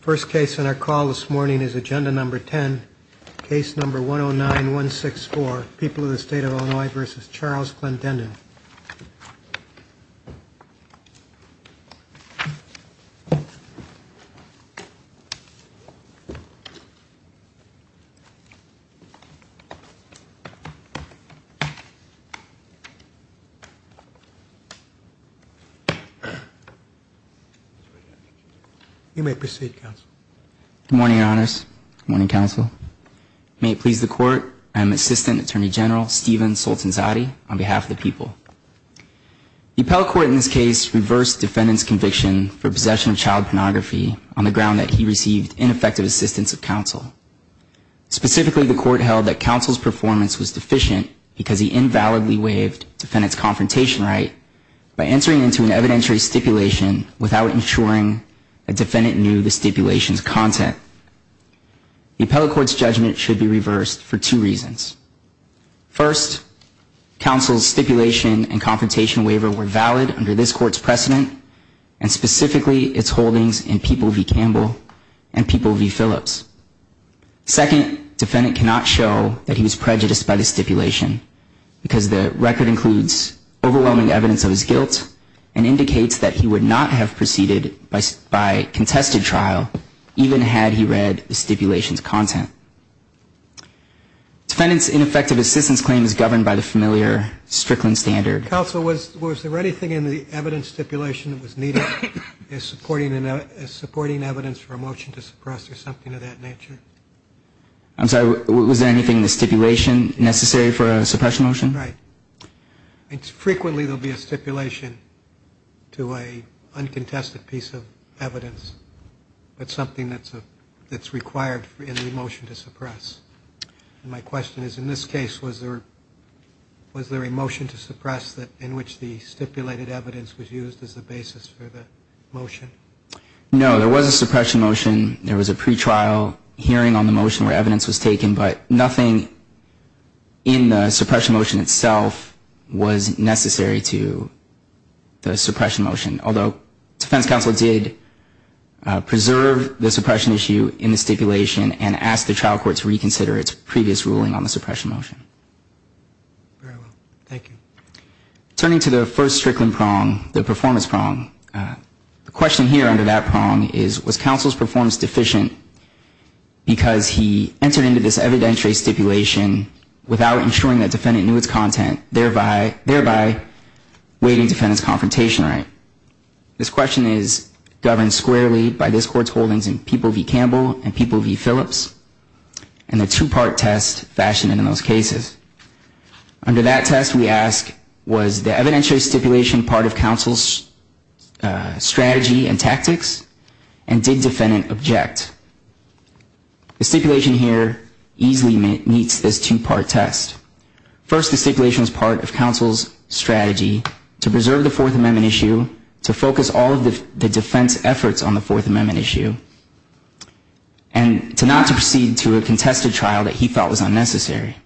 First case in our call this morning is agenda number 10, case number 109164, People of the State of Illinois versus Charles Clendenin. You may proceed, counsel. Good morning, your honors. Good morning, counsel. May it please the court, I am Assistant Attorney General Stephen Soltanzadeh on behalf of the people. The appellate court in this case reversed defendant's conviction for possession of child pornography on the ground that he received ineffective assistance of counsel. Specifically, the court held that counsel's performance was deficient because he invalidly waived defendant's confrontation right by entering into an evidentiary stipulation without ensuring a defendant knew the stipulation's content. The appellate court's judgment should be reversed for two reasons. First, counsel's stipulation and confrontation waiver were valid under this court's precedent and specifically its holdings in People v. Campbell and People v. Phillips. Second, defendant cannot show that he was prejudiced by the stipulation because the record includes overwhelming evidence of his guilt and indicates that he would not have proceeded by contested trial even had he read the stipulation's content. Defendant's ineffective assistance claim is governed by the familiar Strickland standard. Counsel, was there anything in the evidence stipulation that was needed as supporting evidence for a motion to suppress or something of that nature? I'm sorry, was there anything in the stipulation necessary for a suppression motion? Right. Frequently there will be a stipulation to an uncontested piece of evidence, but something that's required in the motion to suppress. My question is, in this case, was there a motion to suppress in which the stipulated evidence was used as a basis for the motion? No, there was a suppression motion. There was a pretrial hearing on the motion where evidence was taken, but nothing in the suppression motion itself was necessary to the suppression motion, although defense counsel did preserve the suppression issue in the stipulation and asked the trial court to reconsider its previous ruling on the suppression motion. Very well. Thank you. Turning to the first Strickland prong, the performance prong, the question here under that prong is, was counsel's performance deficient because he entered into this evidentiary stipulation without ensuring that defendant knew its content, thereby waiving defendant's confrontation right? This question is governed squarely by this Court's holdings in People v. Campbell and People v. Phillips and the two-part test fashioned in those cases. Under that test, we ask, was the evidentiary stipulation part of counsel's strategy and tactics, and did defendant object? The stipulation here easily meets this two-part test. First, the stipulation is part of counsel's strategy to preserve the Fourth Amendment issue, to focus all of the defense efforts on the Fourth Amendment issue, and to not to proceed to a contested trial that he thought was unnecessary.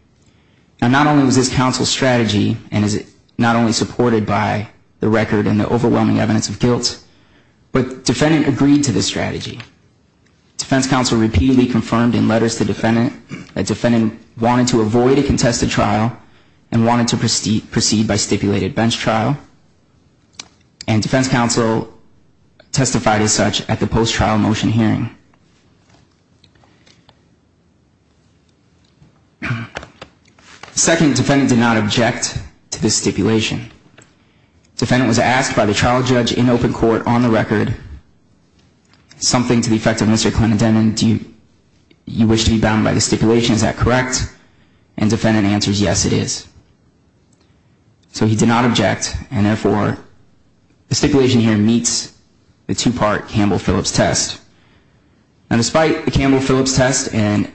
Now, not only was this counsel's strategy, and is it not only supported by the record and the overwhelming evidence of guilt, but defendant agreed to this strategy. Defense counsel repeatedly confirmed in letters to defendant that defendant wanted to avoid a contested trial and wanted to proceed by stipulated bench trial, and defense counsel testified as such at the post-trial motion hearing. Second, defendant did not object to this stipulation. Defendant was asked by the trial judge in open court on the record, something to the effect of Mr. Clendendenon, do you wish to be bound by the stipulation, is that correct? And defendant answers, yes, it is. So he did not object, and therefore the stipulation here meets the two-part Campbell-Phillips test. Now, despite the Campbell-Phillips test and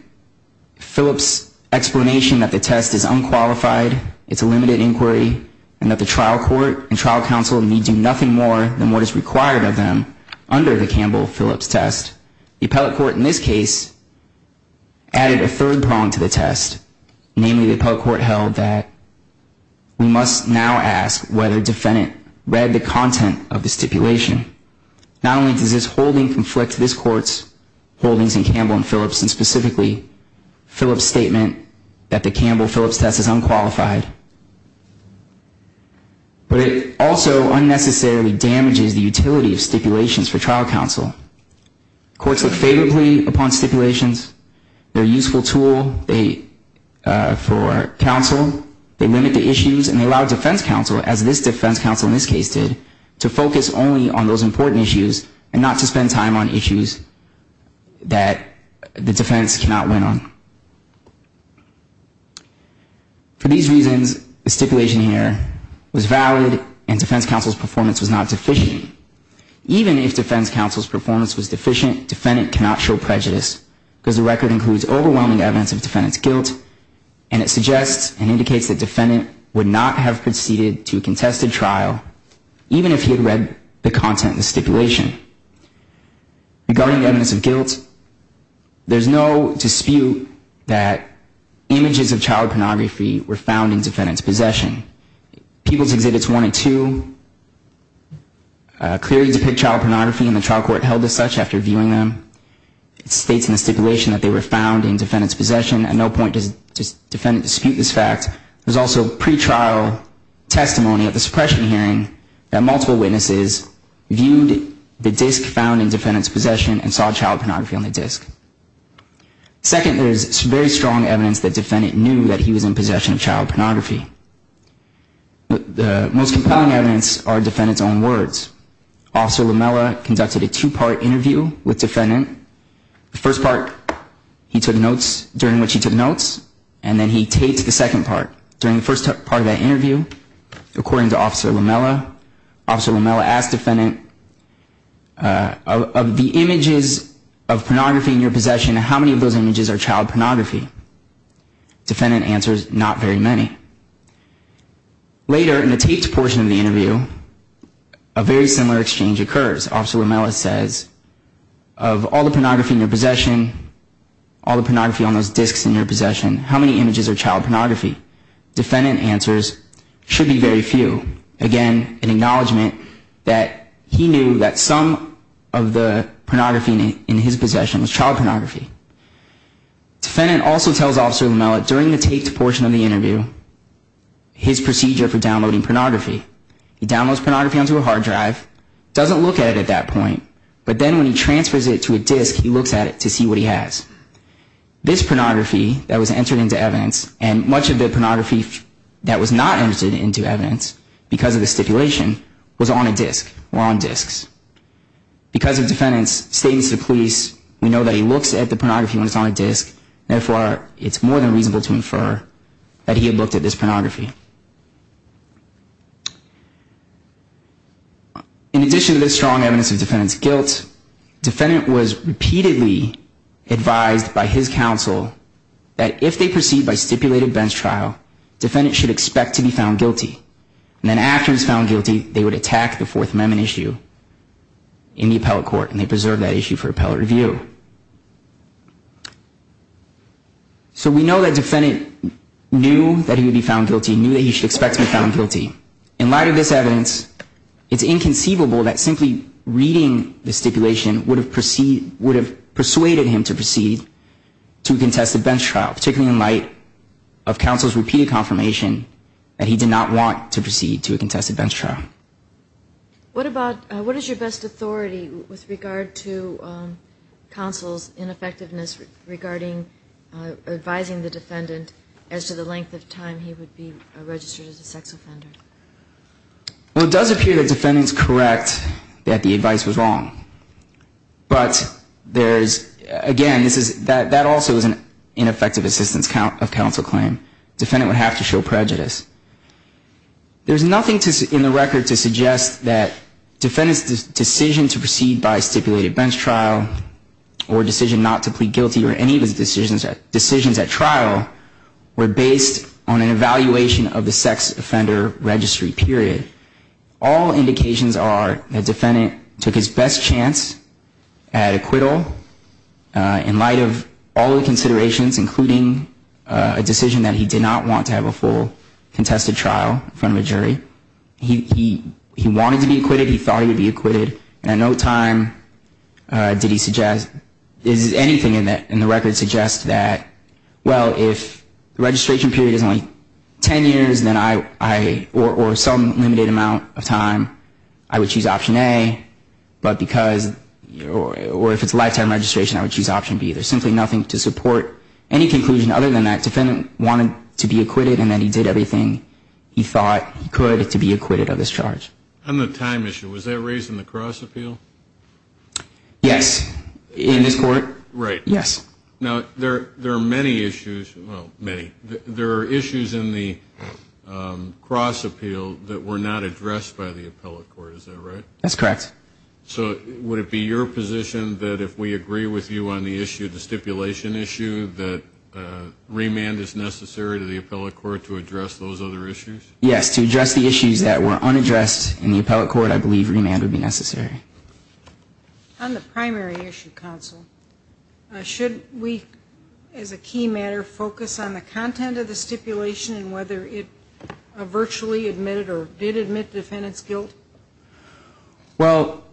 Phillips' explanation that the test is unqualified, it's a limited inquiry, and that the trial court and trial counsel need do nothing more than what is required of them under the Campbell-Phillips test, the appellate court in this case added a third prong to the test, namely the appellate court held that we must now ask whether defendant read the content of the stipulation. Not only does this holding conflict this court's holdings in Campbell-Phillips, and specifically Phillips' statement that the Campbell-Phillips test is unqualified, but it also unnecessarily damages the utility of stipulations for trial counsel. Courts look favorably upon stipulations. They're a useful tool for counsel. They limit the issues, and they allow defense counsel, as this defense counsel in this case did, to focus only on those important issues and not to spend time on issues that the defense cannot win on. For these reasons, the stipulation here was valid, and defense counsel's performance was not deficient. Even if defense counsel's performance was deficient, defendant cannot show prejudice. Because the record includes overwhelming evidence of defendant's guilt, and it suggests and indicates that defendant would not have proceeded to a contested trial, even if he had read the content of the stipulation. Regarding the evidence of guilt, there's no dispute that images of child pornography were found in defendant's possession. People's Exhibits 1 and 2 clearly depict child pornography, and the trial court held as such after viewing them. It states in the stipulation that they were found in defendant's possession. At no point does defendant dispute this fact. There's also pretrial testimony at the suppression hearing that multiple witnesses viewed the disk found in defendant's possession and saw child pornography on the disk. Second, there's very strong evidence that defendant knew that he was in possession of child pornography. The most compelling evidence are defendant's own words. Officer Lamella conducted a two-part interview with defendant. The first part, he took notes during which he took notes, and then he taped the second part. During the first part of that interview, according to Officer Lamella, Officer Lamella asked defendant, of the images of pornography in your possession, how many of those images are child pornography? Defendant answers, not very many. Later, in the taped portion of the interview, a very similar exchange occurs. Officer Lamella says, of all the pornography in your possession, all the pornography on those disks in your possession, how many images are child pornography? Defendant answers, should be very few. Again, an acknowledgment that he knew that some of the pornography in his possession was child pornography. Defendant also tells Officer Lamella, during the taped portion of the interview, his procedure for downloading pornography. He downloads pornography onto a hard drive, doesn't look at it at that point, but then when he transfers it to a disk, he looks at it to see what he has. This pornography that was entered into evidence, and much of the pornography that was not entered into evidence, because of the stipulation, was on a disk, or on disks. Because of Defendant's statements to the police, we know that he looks at the pornography when it's on a disk. Therefore, it's more than reasonable to infer that he had looked at this pornography. In addition to this strong evidence of Defendant's guilt, Defendant was repeatedly advised by his counsel that if they proceed by stipulated bench trial, Defendant should expect to be found guilty. And then after he was found guilty, they would attack the Fourth Amendment issue in the appellate court, and they preserved that issue for appellate review. So we know that Defendant knew that he would be found guilty, knew that he should expect to be found guilty. In light of this evidence, it's inconceivable that simply reading the stipulation would have persuaded him to proceed to a contested bench trial, particularly in light of counsel's repeated confirmation that he did not want to proceed to a contested bench trial. What about, what is your best authority with regard to counsel's ineffectiveness regarding advising the Defendant as to the length of time he would be registered as a sex offender? Well, it does appear that Defendant's correct that the advice was wrong. But there's, again, this is, that also is an ineffective assistance of counsel claim. Defendant would have to show prejudice. There's nothing in the record to suggest that Defendant's decision to proceed by stipulated bench trial, or decision not to plead guilty, or any of his decisions at trial, were based on an evaluation of the sex offender registry period. All indications are that Defendant took his best chance at acquittal in light of all the considerations, including a decision that he did not want to have a full contested trial in front of a jury. He wanted to be acquitted, he thought he would be acquitted, and at no time did he suggest, anything in the record suggests that, well, if the registration period is only 10 years, or some limited amount of time, I would choose option A, but because, or if it's lifetime registration, I would choose option B. There's simply nothing to support any conclusion other than that Defendant wanted to be acquitted, and that he did everything he thought he could to be acquitted of this charge. On the time issue, was that raised in the Cross Appeal? Yes, in this court. Right. Yes. Now, there are many issues, well, many, there are issues in the Cross Appeal that were not addressed by the appellate court, is that right? That's correct. So, would it be your position that if we agree with you on the issue, the stipulation issue, that remand is necessary to the appellate court to address those other issues? Yes, to address the issues that were unaddressed in the appellate court, I believe remand would be necessary. On the primary issue, Counsel, should we, as a key matter, focus on the content of the stipulation and whether it virtually admitted or did admit Defendant's guilt? Well,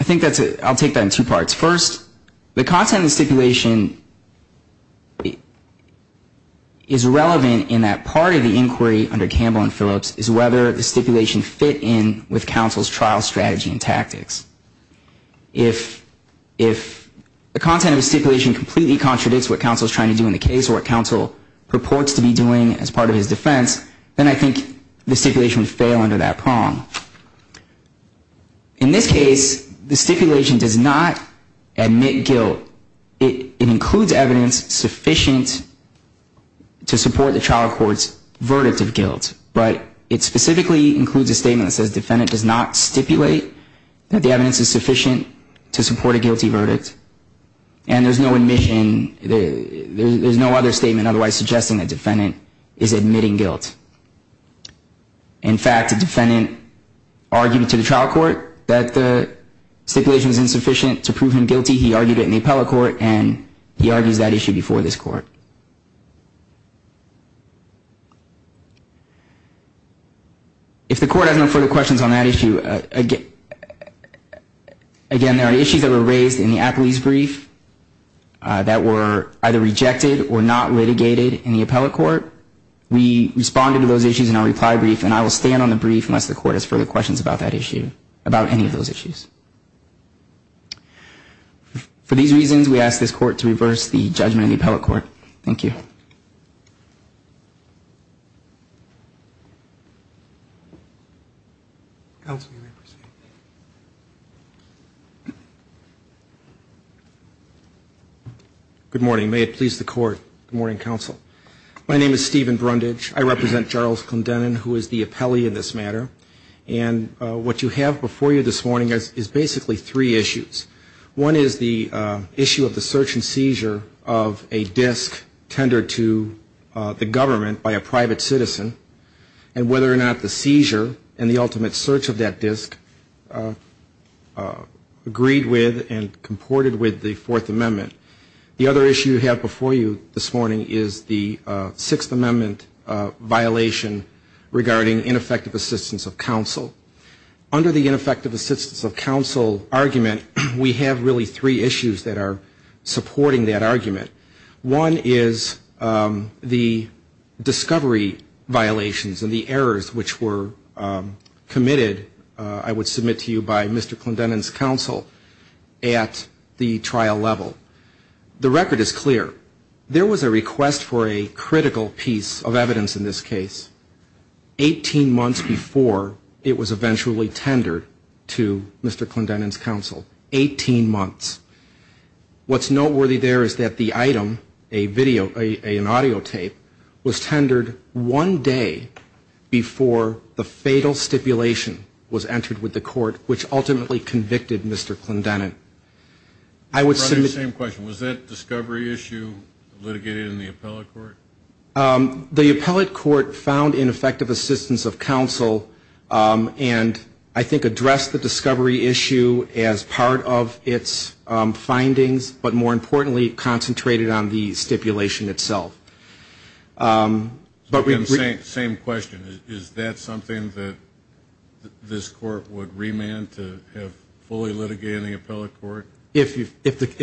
I think that's a, I'll take that in two parts. First, the content of the stipulation is relevant in that part of the inquiry under Campbell and Phillips is whether the stipulation fit in with Counsel's trial strategy and tactics. If the content of the stipulation completely contradicts what Counsel is trying to do in the case or what Counsel purports to be doing as part of his defense, then I think the stipulation would fail under that prong. In this case, the stipulation does not admit guilt. It includes evidence sufficient to support the trial court's verdict of guilt, but it specifically includes a statement that says Defendant does not stipulate that the evidence is sufficient to support a guilty verdict. And there's no admission, there's no other statement otherwise suggesting that Defendant is admitting guilt. In fact, the Defendant argued to the trial court that the stipulation is insufficient to prove him guilty. He argued it in the appellate court, and he argues that issue before this court. If the court has no further questions on that issue, again, there are issues that were raised in the apolice brief that were either rejected or not litigated in the appellate court. We responded to those issues in our reply brief, and I will stand on the brief unless the court has further questions about that issue, about any of those issues. For these reasons, we ask this court to reverse the judgment in the appellate court. Thank you. Counsel, you may proceed. Good morning. May it please the court. Good morning, Counsel. My name is Stephen Brundage. I represent Charles Condennen, who is the appellee in this matter. And what you have before you this morning is basically three issues. One is the issue of the search and seizure of a disk tendered to the government by a private citizen, and whether or not the seizure and the ultimate search of that disk agreed with and comported with the Fourth Amendment. The other issue you have before you this morning is the Sixth Amendment violation regarding ineffective assistance of counsel. Under the ineffective assistance of counsel argument, we have really three issues that are supporting that argument. One is the discovery violations and the errors which were committed, I would submit to you, by Mr. Condennen's counsel at the trial level. The record is clear. There was a request for a critical piece of evidence in this case 18 months before it was eventually tendered to Mr. Condennen's counsel, 18 months. What's noteworthy there is that the item, an audio tape, was tendered one day before the fatal stipulation was entered with the court, which ultimately convicted Mr. Condennen. I would submit to you. The same question. Was that discovery issue litigated in the appellate court? The appellate court found ineffective assistance of counsel and I think addressed the discovery issue as part of its findings, but more importantly concentrated on the stipulation itself. The same question. Is that something that this court would remand to have fully litigated in the appellate court? If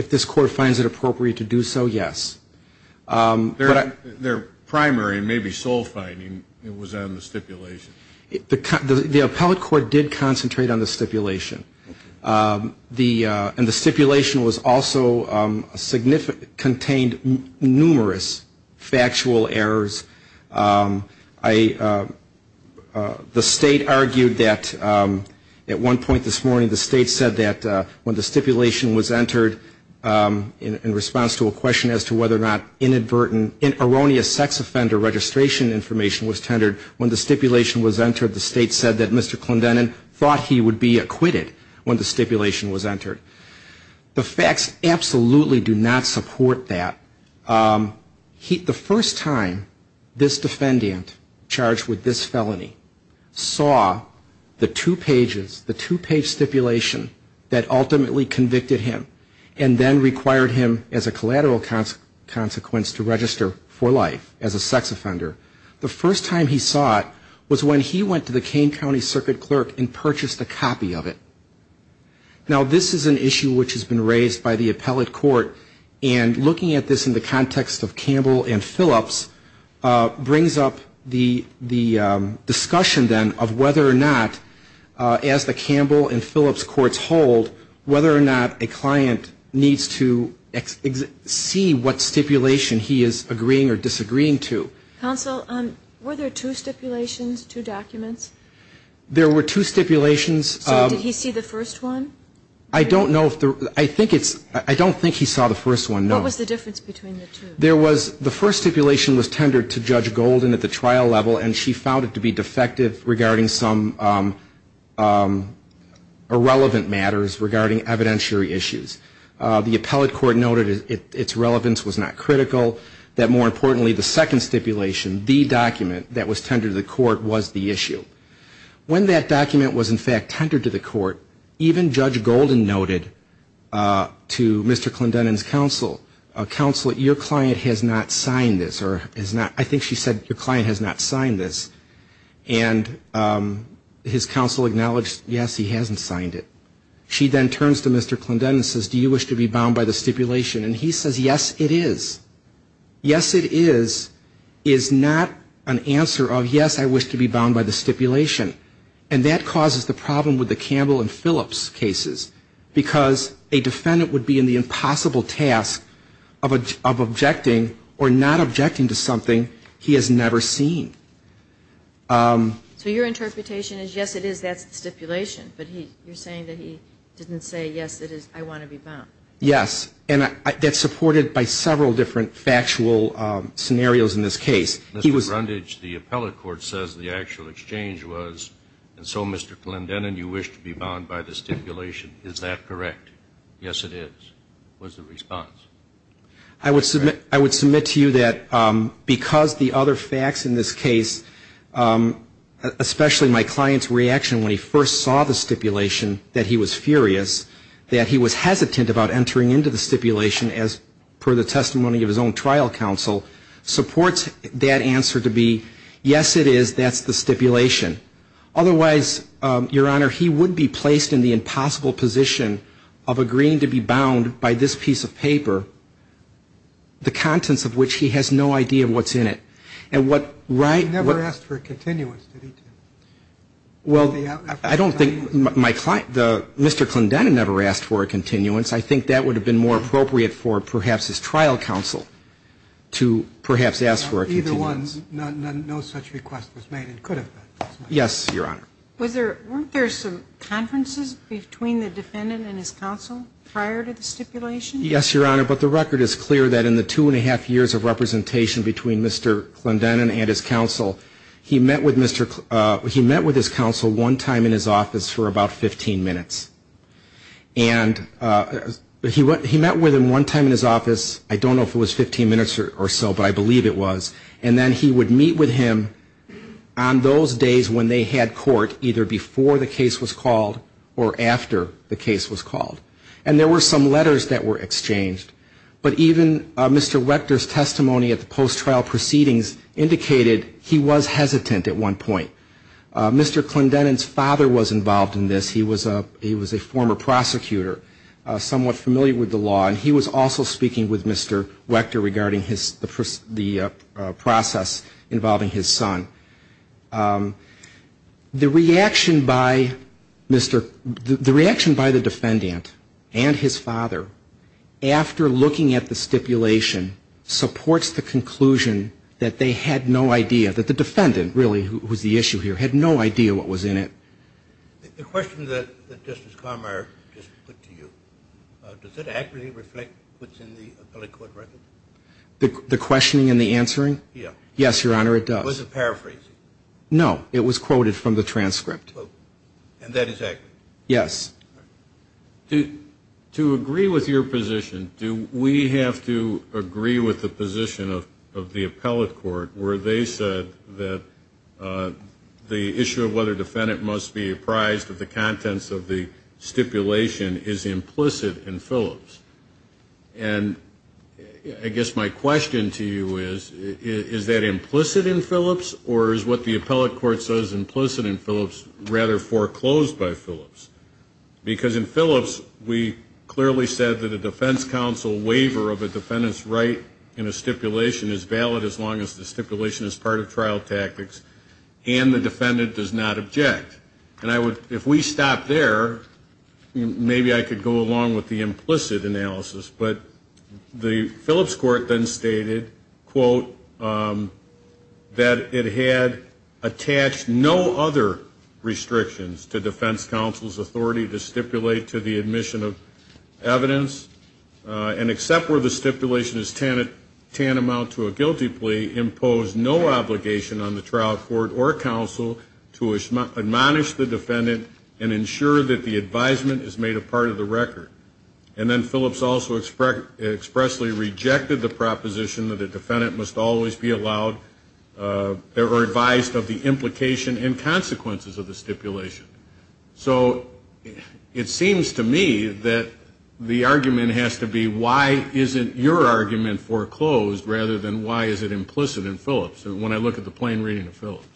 this court finds it appropriate to do so, yes. Their primary and maybe sole finding was on the stipulation. The appellate court did concentrate on the stipulation. And the stipulation also contained numerous factual errors. The state argued that at one point this morning, the state said that when the stipulation was entered in response to a question as to whether or not erroneous sex offender registration information was tendered, when the stipulation was entered, the state said that Mr. Condennen thought he would be acquitted when the stipulation was entered. The facts absolutely do not support that. The first time this defendant charged with this felony saw the two pages, the two-page stipulation that ultimately convicted him and then required him as a collateral consequence to register for life as a sex offender, the first time he saw it was when he went to the Kane County Circuit Clerk and purchased a copy of it. Now, this is an issue which has been raised by the appellate court, and looking at this in the context of Campbell and Phillips brings up the discussion then of whether or not as the Campbell and Phillips courts hold, whether or not a client needs to see what stipulation he is agreeing or disagreeing to. Counsel, were there two stipulations, two documents? There were two stipulations. Did he see the first one? I don't know. I don't think he saw the first one, no. What was the difference between the two? The first stipulation was tendered to Judge Golden at the trial level, and she found it to be defective regarding some irrelevant matters regarding evidentiary issues. The appellate court noted its relevance was not critical, until that more importantly the second stipulation, the document that was tendered to the court, was the issue. When that document was in fact tendered to the court, even Judge Golden noted to Mr. Clendenin's counsel, counsel, your client has not signed this, or has not, I think she said your client has not signed this. And his counsel acknowledged, yes, he hasn't signed it. She then turns to Mr. Clendenin and says, do you wish to be bound by the stipulation? And he says, yes, it is. Yes, it is, is not an answer of, yes, I wish to be bound by the stipulation. And that causes the problem with the Campbell and Phillips cases, because a defendant would be in the impossible task of objecting or not objecting to something he has never seen. So your interpretation is, yes, it is, that's the stipulation. But you're saying that he didn't say, yes, it is, I want to be bound. Yes. And that's supported by several different factual scenarios in this case. Mr. Grundage, the appellate court says the actual exchange was, and so, Mr. Clendenin, you wish to be bound by the stipulation. Is that correct? Yes, it is, was the response. I would submit to you that because the other facts in this case, especially my client's reaction when he first saw the stipulation, that he was furious, that he was hesitant about entering into the stipulation as per the testimony of his own trial counsel, supports that answer to be, yes, it is, that's the stipulation. Otherwise, Your Honor, he would be placed in the impossible position of agreeing to be bound by this piece of paper the contents of which he has no idea what's in it. He never asked for a continuance, did he? Well, I don't think my client, Mr. Clendenin never asked for a continuance. I think that would have been more appropriate for perhaps his trial counsel to perhaps ask for a continuance. Either one, no such request was made. It could have been. Yes, Your Honor. Weren't there some conferences between the defendant and his counsel prior to the stipulation? Yes, Your Honor, but the record is clear that in the two and a half years of representation between Mr. Clendenin and his counsel, he met with his counsel one time in his office for about 15 minutes. And he met with him one time in his office, I don't know if it was 15 minutes or so, but I believe it was, and then he would meet with him on those days when they had court, either before the case was called or after the case was called. And there were some letters that were exchanged. But even Mr. Wechter's testimony at the post-trial proceedings indicated he was hesitant at one point. Mr. Clendenin's father was involved in this. He was a former prosecutor, somewhat familiar with the law, and he was also speaking with Mr. Wechter regarding the process involving his son. The reaction by the defendant and his father after looking at the stipulation supports the conclusion that they had no idea, that the defendant, really, who was the issue here, had no idea what was in it. The question that Justice Conroy just put to you, does it accurately reflect what's in the appellate court record? The questioning and the answering? Yes. Yes, Your Honor, it does. Was it paraphrasing? No, it was quoted from the transcript. And that is accurate? Yes. To agree with your position, do we have to agree with the position of the appellate court where they said that the issue of whether a defendant must be apprised of the contents of the stipulation is implicit in Phillips? And I guess my question to you is, is that implicit in Phillips, or is what the appellate court says implicit in Phillips rather foreclosed by Phillips? Because in Phillips, we clearly said that a defense counsel waiver of a defendant's right in a stipulation is valid as long as the stipulation is part of trial tactics and the defendant does not object. If we stop there, maybe I could go along with the implicit analysis. But the Phillips court then stated, quote, that it had attached no other restrictions to defense counsel's authority to stipulate to the admission of evidence and except where the stipulation is tantamount to a guilty plea, impose no obligation on the trial court or counsel to admonish the defendant and ensure that the advisement is made a part of the record. And then Phillips also expressly rejected the proposition that a defendant must always be allowed or advised of the implication and consequences of the stipulation. So it seems to me that the argument has to be why isn't your argument foreclosed rather than why is it implicit in Phillips? When I look at the plain reading of Phillips.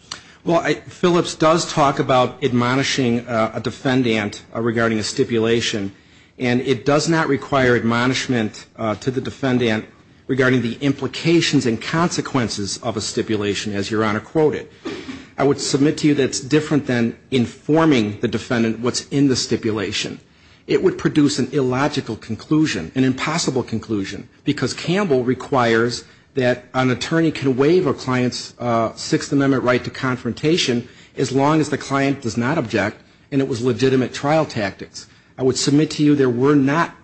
Well, Phillips does talk about admonishing a defendant regarding a stipulation, and it does not require admonishment to the defendant regarding the implications and consequences of a stipulation, as Your Honor quoted. I would submit to you that it's different than informing the defendant what's in the stipulation. It would produce an illogical conclusion, an impossible conclusion, because Campbell requires that an attorney can waive a client's Sixth Amendment right to confrontation as long as the client does not object and it was legitimate trial tactics. I would submit to you there were not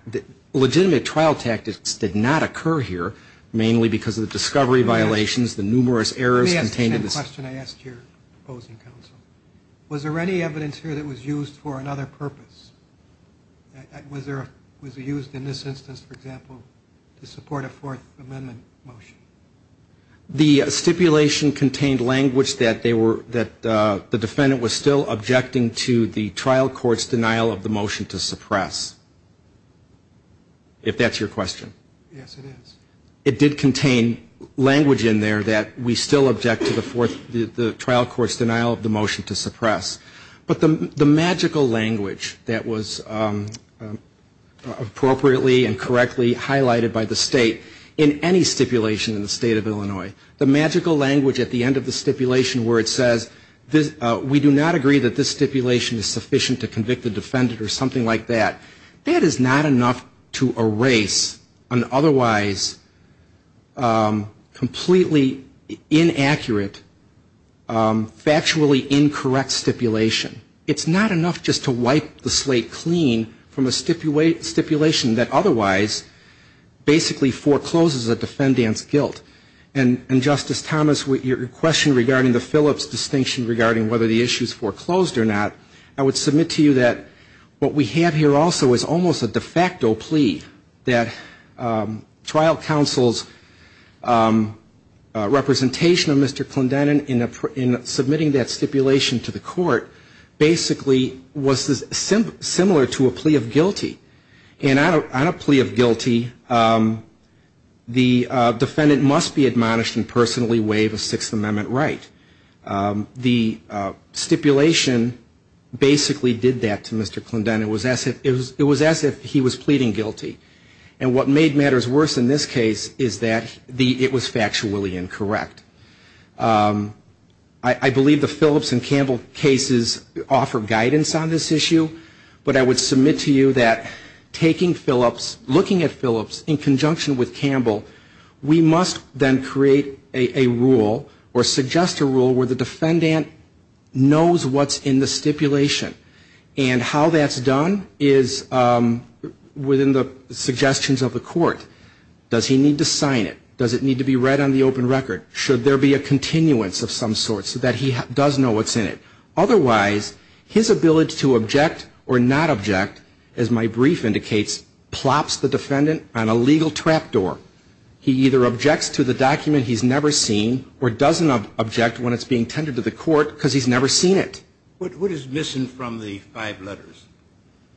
legitimate trial tactics did not occur here, mainly because of the discovery violations, the numerous errors contained in this. Let me ask the same question I asked your opposing counsel. Was there any evidence here that was used for another purpose? Was it used in this instance, for example, to support a Fourth Amendment motion? The stipulation contained language that the defendant was still objecting to the trial court's denial of the motion to suppress, if that's your question. Yes, it is. It did contain language in there that we still object to the trial court's denial of the motion to suppress. But the magical language that was appropriately and correctly highlighted by the State in any stipulation in the State of Illinois, the magical language at the end of the stipulation where it says we do not agree that this stipulation is sufficient to convict the defendant or something like that, that is not enough to erase an otherwise completely inaccurate, factually incorrect stipulation. It's not enough just to wipe the slate clean from a stipulation that otherwise basically forecloses a defendant's guilt. And Justice Thomas, your question regarding the Phillips distinction regarding whether the issue is foreclosed or not, I would submit to you that what we have here also is almost a de facto plea that trial counsel's representation of Mr. Clendenin in submitting that stipulation to the court basically was similar to a plea of guilty. And on a plea of guilty, the defendant must be admonished and personally waive a Sixth Amendment right. The stipulation basically did that to Mr. Clendenin. It was as if he was pleading guilty. And what made matters worse in this case is that it was factually incorrect. I believe the Phillips and Campbell cases offer guidance on this issue. But I would submit to you that taking Phillips, looking at Phillips in conjunction with Campbell, we must then create a rule or suggest a rule where the defendant knows what's in the stipulation. And how that's done is within the suggestions of the court. Does he need to sign it? Does it need to be read on the open record? Should there be a continuance of some sort so that he does know what's in it? Otherwise, his ability to object or not object, as my brief indicates, plops the defendant on a legal trapdoor. He either objects to the document he's never seen or doesn't object when it's being tended to the court because he's never seen it. What is missing from the five letters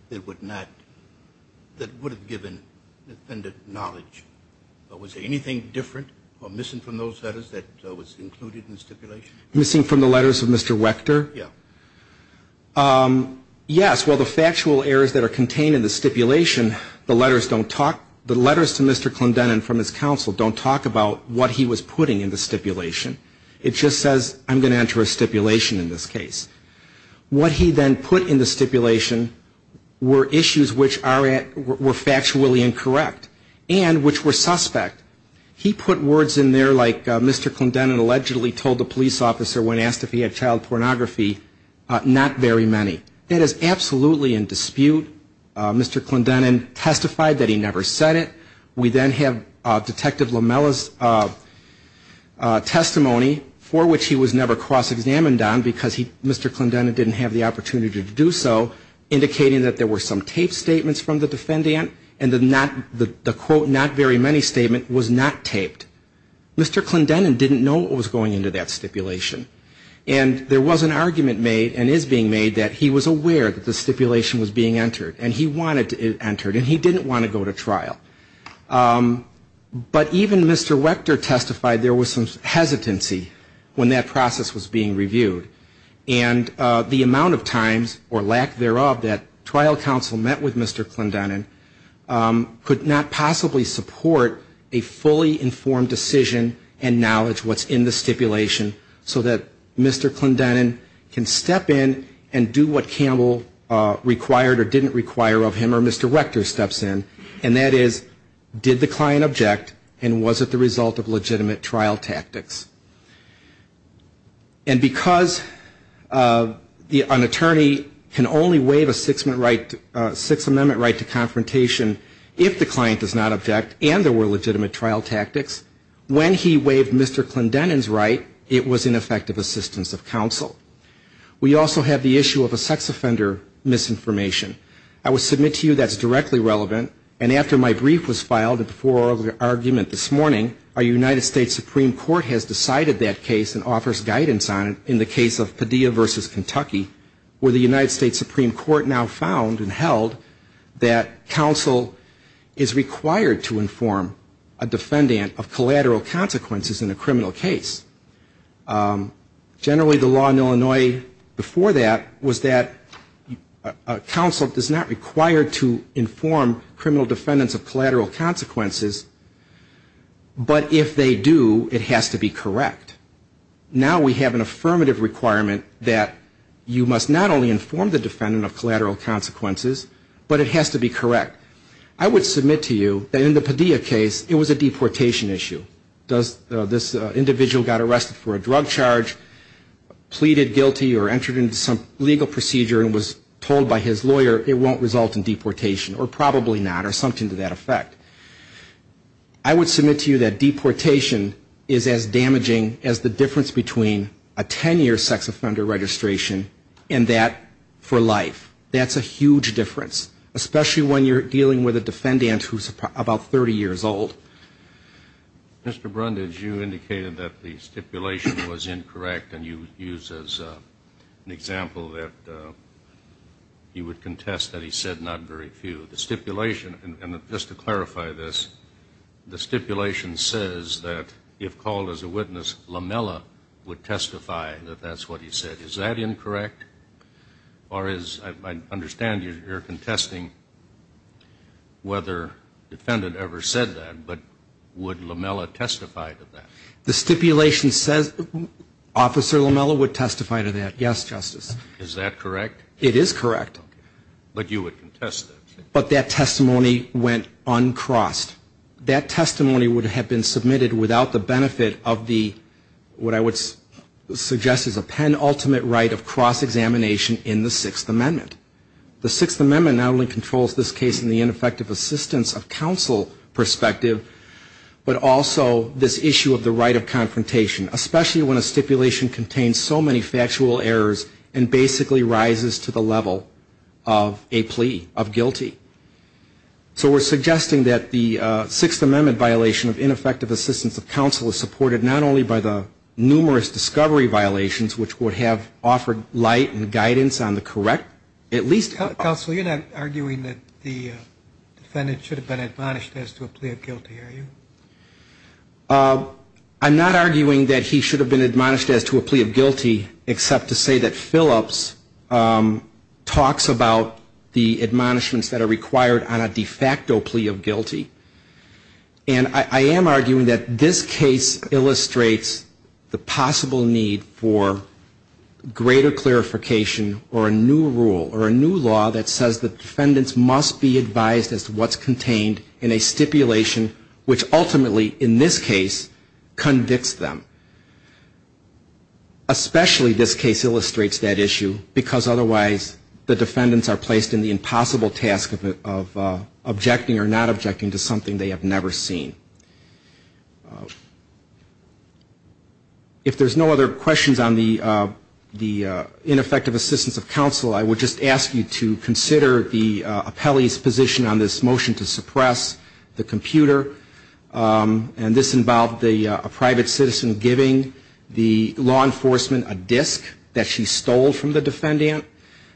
that would have given the defendant knowledge? Was there anything different or missing from those letters that was included in the stipulation? Missing from the letters of Mr. Wechter? Yes, well, the factual errors that are contained in the stipulation, the letters don't talk, the letters to Mr. Clendenin from his counsel don't talk about what he was putting in the stipulation. It just says, I'm going to enter a stipulation in this case. What he then put in the stipulation were issues which were factually incorrect and which were suspect. He put words in there like Mr. Clendenin allegedly told the police officer when asked if he had child pornography, not very many. That is absolutely in dispute. Mr. Clendenin testified that he never said it. We then have Detective Lamella's testimony, for which he was never cross-examined on because Mr. Clendenin didn't have the opportunity to do so, indicating that there were some taped statements from the defendant and the quote not very many statement was not taped. Mr. Clendenin didn't know what was going into that stipulation. And there was an argument made and is being made that he was aware that the stipulation was being entered and he wanted it entered and he didn't want to go to trial. But even Mr. Wechter testified there was some hesitancy when that process was being reviewed. And the amount of times or lack thereof that trial counsel met with Mr. Clendenin could not possibly support a fully informed decision and knowledge what's in the stipulation so that Mr. Clendenin can step in and do what Campbell required or didn't require of him or Mr. Wechter steps in, and that is did the client object and was it the result of legitimate trial tactics? And because an attorney can only waive a Sixth Amendment right to confrontation if the client does not object and there were legitimate trial tactics, when he waived Mr. Clendenin's right, it was ineffective assistance of counsel. We also have the issue of a sex offender misinformation. I will submit to you that's directly relevant. And after my brief was filed before the argument this morning, our United States Supreme Court has decided that case and offers guidance on it in the case of Padilla v. Kentucky where the United States Supreme Court now found and held that counsel is required to inform a defendant of collateral consequences in a criminal case. Generally the law in Illinois before that was that counsel is not required to inform the defendant of collateral consequences but if they do, it has to be correct. Now we have an affirmative requirement that you must not only inform the defendant of collateral consequences, but it has to be correct. I would submit to you that in the Padilla case, it was a deportation issue. Does this individual got arrested for a drug charge, pleaded guilty or entered into some legal procedure and was told by his lawyer it won't result in deportation or probably not or something to that effect? I would submit to you that deportation is as damaging as the difference between a 10-year sex offender registration and that for life. That's a huge difference, especially when you're dealing with a defendant who's about 30 years old. Mr. Brundage, you indicated that the stipulation was incorrect and you used as an example that you would contest that he was telling the truth. Is that true? The stipulation, and just to clarify this, the stipulation says that if called as a witness, Lamella would testify that that's what he said. Is that incorrect? Or as I understand, you're contesting whether the defendant ever said that, but would Lamella testify to that? But that testimony went uncrossed. That testimony would have been submitted without the benefit of what I would suggest is a penultimate right of cross-examination in the Sixth Amendment. The Sixth Amendment not only controls this case in the ineffective assistance of counsel perspective, but also this issue of the right of confrontation, especially when a stipulation contains so many factual errors and basically rises to the level of a plea. So we're suggesting that the Sixth Amendment violation of ineffective assistance of counsel is supported not only by the numerous discovery violations, which would have offered light and guidance on the correct, at least... Counsel, you're not arguing that the defendant should have been admonished as to a plea of guilty, are you? I'm not arguing that he should have been admonished as to a plea of guilty, except to say that Phillips talks about the admonishments that are required on a de facto plea of guilty. And I am arguing that this case illustrates the possible need for greater clarification or a new rule or a new law that says that defendants must be advised as to what's contained in a stipulation which ultimately, in this case, convicts them. Especially this case illustrates that issue, because otherwise the defendants are placed in the impossible task of objecting or not objecting to something they have never seen. If there's no other questions on the ineffective assistance of counsel, I would just ask you to consider the appellee's position on this motion to suppress the computer. And this involved a private citizen giving the law enforcement a disk that she stole from the defendant.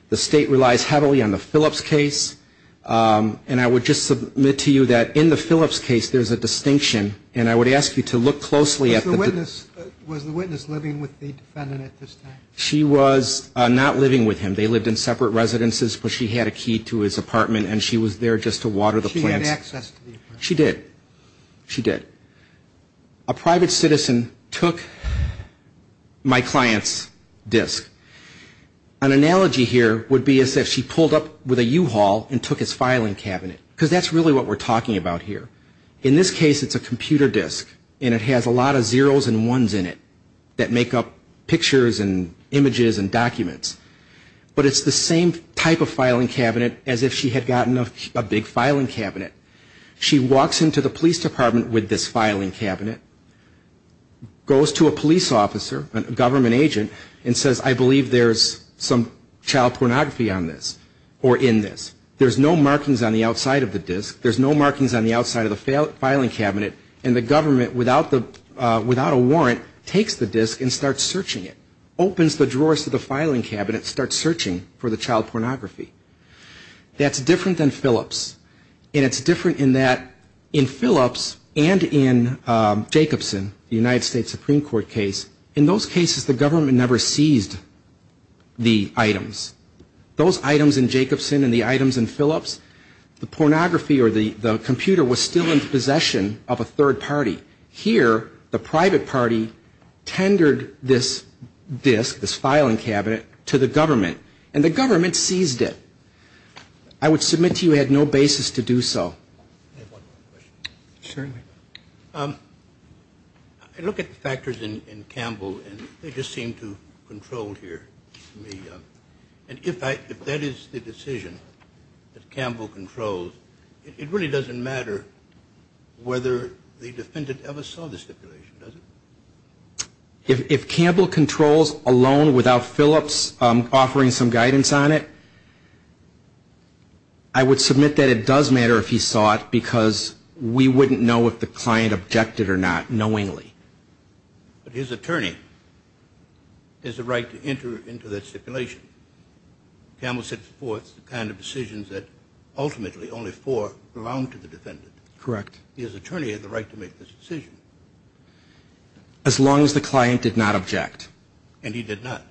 The State relies heavily on the Phillips case. And I would just submit to you that in the Phillips case there's a distinction, and I would ask you to look closely at the... Was the witness living with the defendant at this time? She was not living with him. They lived in separate residences, but she had a key to his apartment, and she was there just to water the plants. She had access to the apartment. She did. She did. A private citizen took my client's disk. An analogy here would be as if she pulled up with a U-Haul and took his filing cabinet, because that's really what we're talking about here. In this case, it's a computer disk, and it has a lot of zeros and ones in it that make up pictures and images and documents. But it's the same type of filing cabinet as if she had gotten a big filing cabinet. She walks into the police department with this filing cabinet, goes to a police officer, a government agent, and says, I believe there's some child pornography on this or in this. There's no markings on the outside of the disk. There's no markings on the outside of the filing cabinet, and the government, without a warrant, takes the disk and starts searching it. Opens the drawers to the filing cabinet and starts searching for the child pornography. That's different than Phillips, and it's different in that in Phillips and in Jacobson, the United States Supreme Court case, in those cases the government never seized the items. Those items in Jacobson and the items in Phillips, the pornography or the computer was still in possession of a third party. Here, the private party tendered this disk, this filing cabinet, to the government, and the government seized it. I would submit to you we had no basis to do so. I look at the factors in Campbell, and they just seem too controlled here. And if that is the decision that Campbell controls, it really doesn't matter whether the defendant ever saw the stipulation, does it? If Campbell controls alone without Phillips offering some guidance on it, I would submit that it does matter if he saw it, because we wouldn't know if the client objected or not, knowingly. But his attorney has the right to enter into that stipulation. Campbell sets forth the kind of decisions that ultimately only four belong to the defendant. Correct. His attorney has the right to make this decision. As long as the client did not object. And he did not.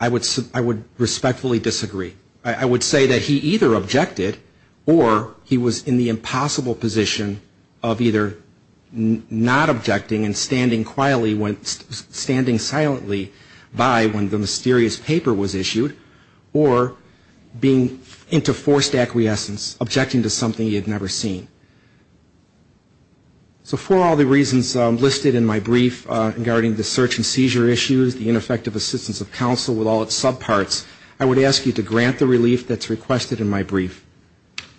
I would respectfully disagree. I would say that he either objected, or he was in the impossible position of either not objecting and standing quietly, standing silently by when the mysterious paper was issued, or being into forced acquiescence, objecting to something he had never seen. So for all the reasons listed in my brief regarding the search and seizure issues, the ineffective assistance of counsel with all its subparts, I would ask you to grant the relief that's requested in my brief.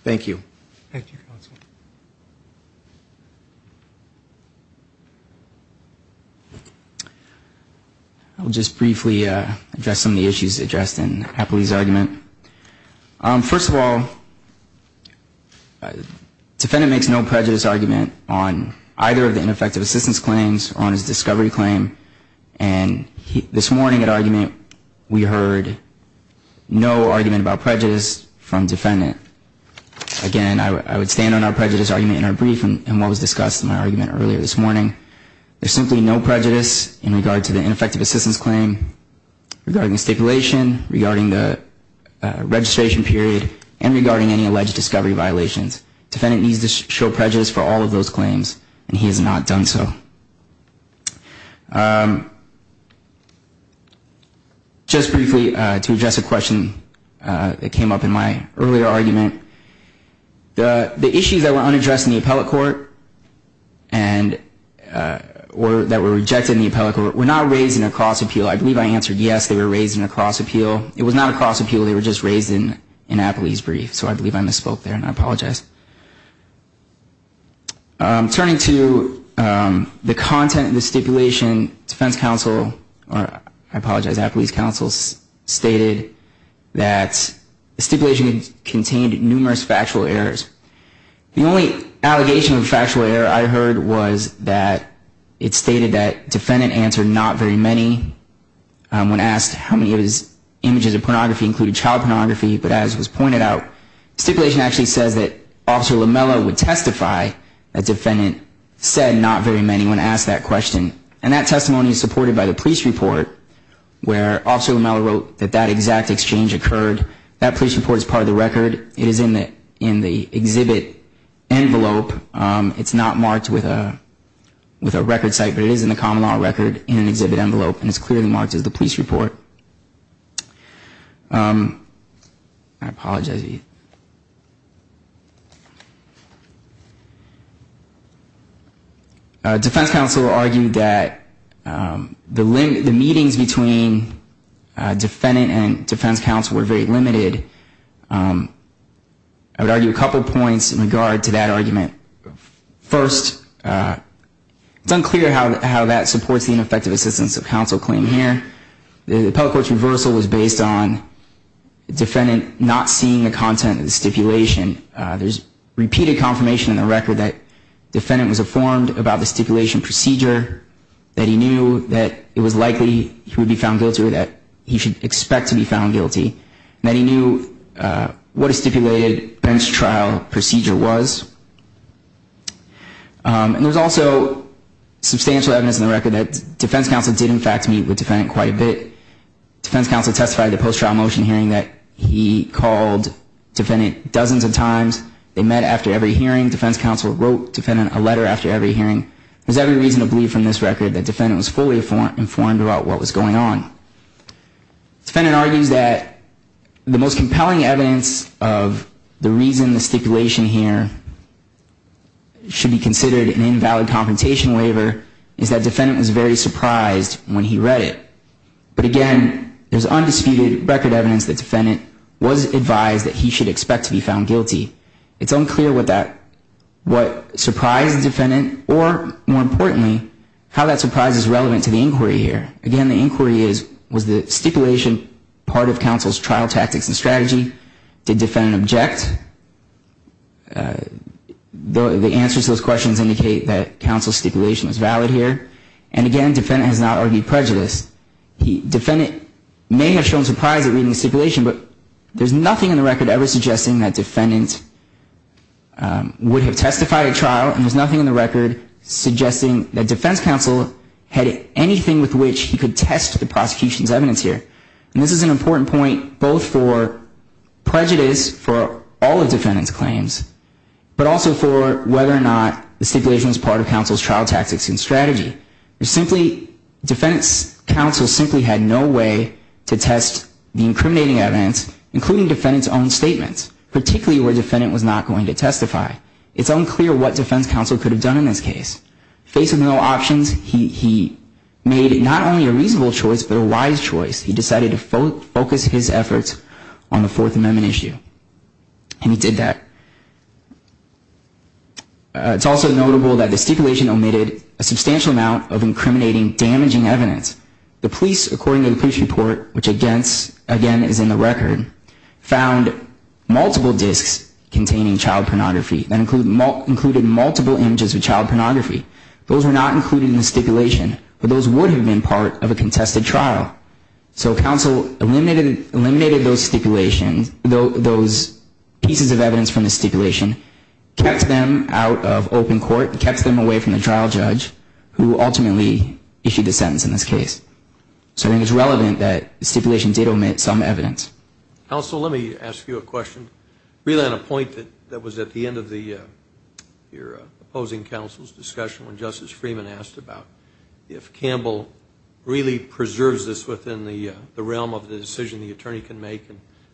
Thank you. I'll just briefly address some of the issues addressed in Happily's argument. First of all, defendant makes no prejudice argument on either of the ineffective assistance claims or on his discovery claim. And this morning at argument, we heard no argument about prejudice from defendant. Again, I would stand on our prejudice argument in our brief, and what was discussed in my argument earlier this morning. There's simply no prejudice in regard to the ineffective assistance claim, regarding the stipulation, regarding the discovery claim. There's simply no prejudice in regard to the registration period, and regarding any alleged discovery violations. Defendant needs to show prejudice for all of those claims, and he has not done so. Just briefly, to address a question that came up in my earlier argument, the issues that were unaddressed in the appellate court, or that were rejected in the appellate court, were not raised in a cross-appeal. It was not a cross-appeal, they were just raised in Happily's brief, so I believe I misspoke there, and I apologize. Turning to the content of the stipulation, defense counsel, or I apologize, Happily's counsel, stated that the stipulation contained numerous factual errors. The only allegation of factual error I heard was that it stated that defendant answered not very many. When asked how many of his images of pornography included child pornography, but as was pointed out, stipulation actually says that Officer Lamella would testify that defendant said not very many when asked that question. And that testimony is supported by the police report, where Officer Lamella wrote that that exact exchange occurred. That police report is part of the record. It is in the exhibit envelope. That's clearly marked as the police report. I apologize. Defense counsel argued that the meetings between defendant and defense counsel were very limited. I would argue a couple points in regard to that argument. First, it's unclear how that supports the ineffective assistance of counsel claim here. The appellate court's reversal was based on defendant not seeing the content of the stipulation. There's repeated confirmation in the record that defendant was informed about the stipulation procedure, that he knew that it was likely he would be found guilty or that he should expect to be found guilty, and that he knew what a stipulated bench trial procedure was. And there's also substantial evidence in the record that defense counsel did, in fact, meet with defendant quite a bit. Defense counsel testified at the post-trial motion hearing that he called defendant dozens of times. They met after every hearing. There's every reason to believe from this record that defendant was fully informed about what was going on. Defendant argues that the most compelling evidence of the reason the stipulation here should be considered an invalid compensation waiver is that defendant was very surprised when he read it. But again, there's undisputed record evidence that defendant was advised that he should expect to be found guilty. It's unclear what surprised the defendant or, more importantly, how that surprise is relevant to the inquiry here. Again, the inquiry is, was the stipulation part of counsel's trial tactics and strategy? Did defendant object? The answers to those questions indicate that counsel's stipulation was valid here. And again, defendant has not argued prejudice. Defendant may have shown surprise at reading the stipulation, but there's nothing in the record ever suggesting that defendant would have testified at trial. And there's nothing in the record suggesting that defense counsel had anything with which he could test the prosecution's evidence here. And this is an important point both for prejudice for all of defendant's claims, but also for whether or not the stipulation was part of counsel's trial tactics and strategy. Defendant's counsel simply had no way to test the incriminating evidence, including defendant's own statements, particularly where defendant was not going to testify. It's unclear what defense counsel could have done in this case. Faced with no options, he made not only a reasonable choice, but a wise choice. He decided to focus his efforts on the Fourth Amendment issue. And he did that. It's also notable that the stipulation omitted a substantial amount of incriminating, damaging evidence. The police, according to the police report, which again is in the record, found multiple disks containing child pornography that included multiple images of child pornography. Those were not included in the stipulation, but those would have been part of a contested trial. So counsel eliminated those stipulations, those pieces of evidence from the stipulation, kept them out of open court, kept them away from the trial judge, who ultimately issued the sentence in this case. So I think it's relevant that the stipulation did omit some evidence. Counsel, let me ask you a question. Really on a point that was at the end of your opposing counsel's discussion when Justice Freeman asked about if Campbell really preserves this within the realm of the decision the attorney can make.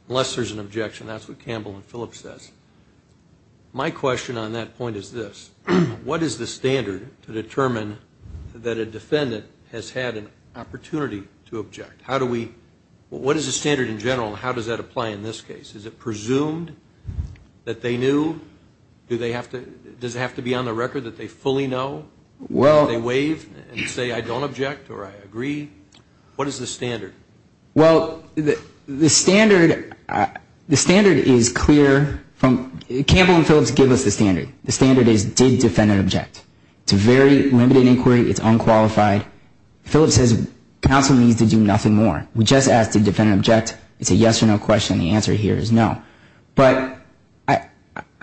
Unless there's an objection, that's what Campbell and Phillips says. My question on that point is this. What is the standard to determine that a defendant has had an opportunity to object? What is the standard in general and how does that apply in this case? Is it presumed that they knew? Does it have to be on the record that they fully know? Do they waive and say I don't object or I agree? What is the standard? Well, the standard is clear. Campbell and Phillips give us the standard. The standard is did defendant object. It's a very limited inquiry. It's unqualified. Phillips says counsel needs to do nothing more. We just asked did defendant object. It's a yes or no question. The answer here is no. But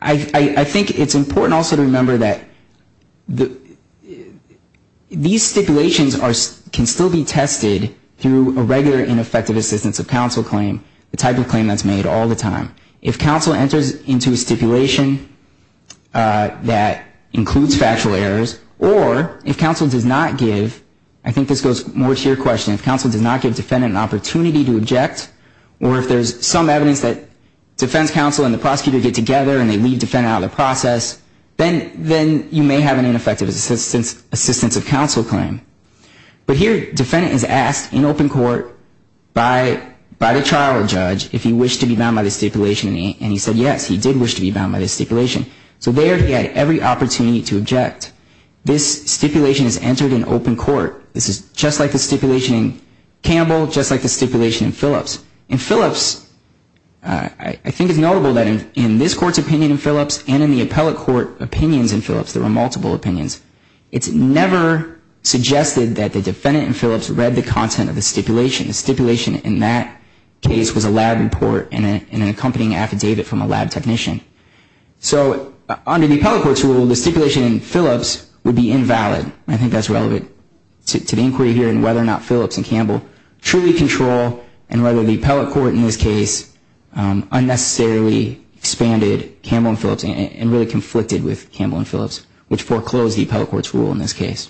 I think it's important also to remember that these stipulations can still be tested through a regular ineffective assistance of counsel claim, the type of claim that's made all the time. If counsel enters into a stipulation that includes factual errors or if counsel does not give, I think this goes more to your question, if counsel does not give defendant an opportunity to object or if there's some evidence that defense counsel and the prosecutor get together and they leave defendant out of the process, then you may have an ineffective assistance of counsel claim. But here defendant is asked in open court by the trial judge if he wished to be bound by the stipulation and he said yes, he did wish to be bound by the stipulation. So there he had every opportunity to object. This stipulation is entered in open court. This is just like the stipulation in Campbell, just like the stipulation in Phillips. In Phillips, I think it's notable that in this court's opinion in Phillips and in the appellate court opinions in Phillips, there were multiple opinions. It's never suggested that the defendant in Phillips read the content of the stipulation. The stipulation in that case was a lab report and an accompanying affidavit from a lab technician. So under the appellate court's rule, the stipulation in Phillips would be invalid. I think that's relevant to the inquiry here in whether or not Phillips and Campbell truly control and whether the appellate court in this case unnecessarily expanded Campbell and Phillips and really conflicted with Campbell and Phillips, which foreclosed the appellate court's rule in this case.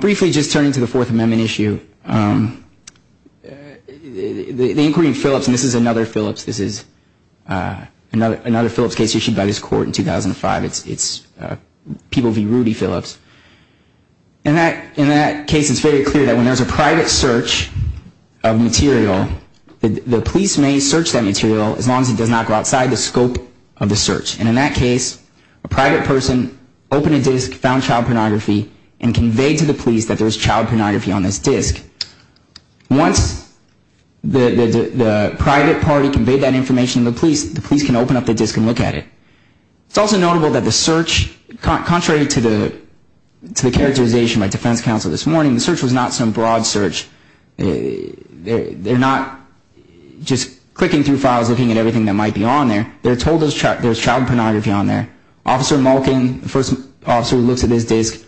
Briefly just turning to the Fourth Amendment issue, the inquiry in Phillips, and this is another Phillips case issued by this court in 2005. It's People v. Rudy Phillips. In that case, it's very clear that when there's a private search of material, the police may search that material as long as it does not go outside the scope of the search. And in that case, a private person opened a disc, found child pornography, and conveyed to the police that there was child pornography on this disc. Once the private party conveyed that information to the police, the police can open up the disc and look at it. It's also notable that the search, contrary to the characterization by defense counsel this morning, the search was not some broad search. They're not just clicking through files looking at everything that might be on there. They're told there's child pornography on there. Officer Malkin, the first officer who looks at this disc,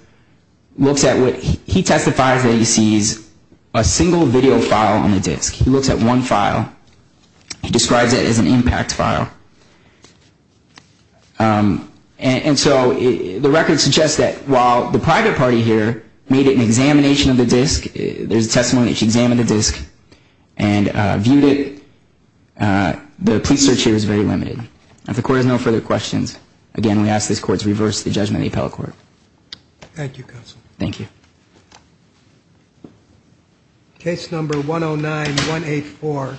he testifies that he sees a single video file on the disc. He looks at one file. He describes it as an impact file. And so the record suggests that while the private party here made an examination of the disc, there's testimony that she examined the disc and viewed it, the police search here is very limited. If the court has no further questions, again, we ask this court to reverse the judgment of the appellate court. Thank you, counsel. Thank you.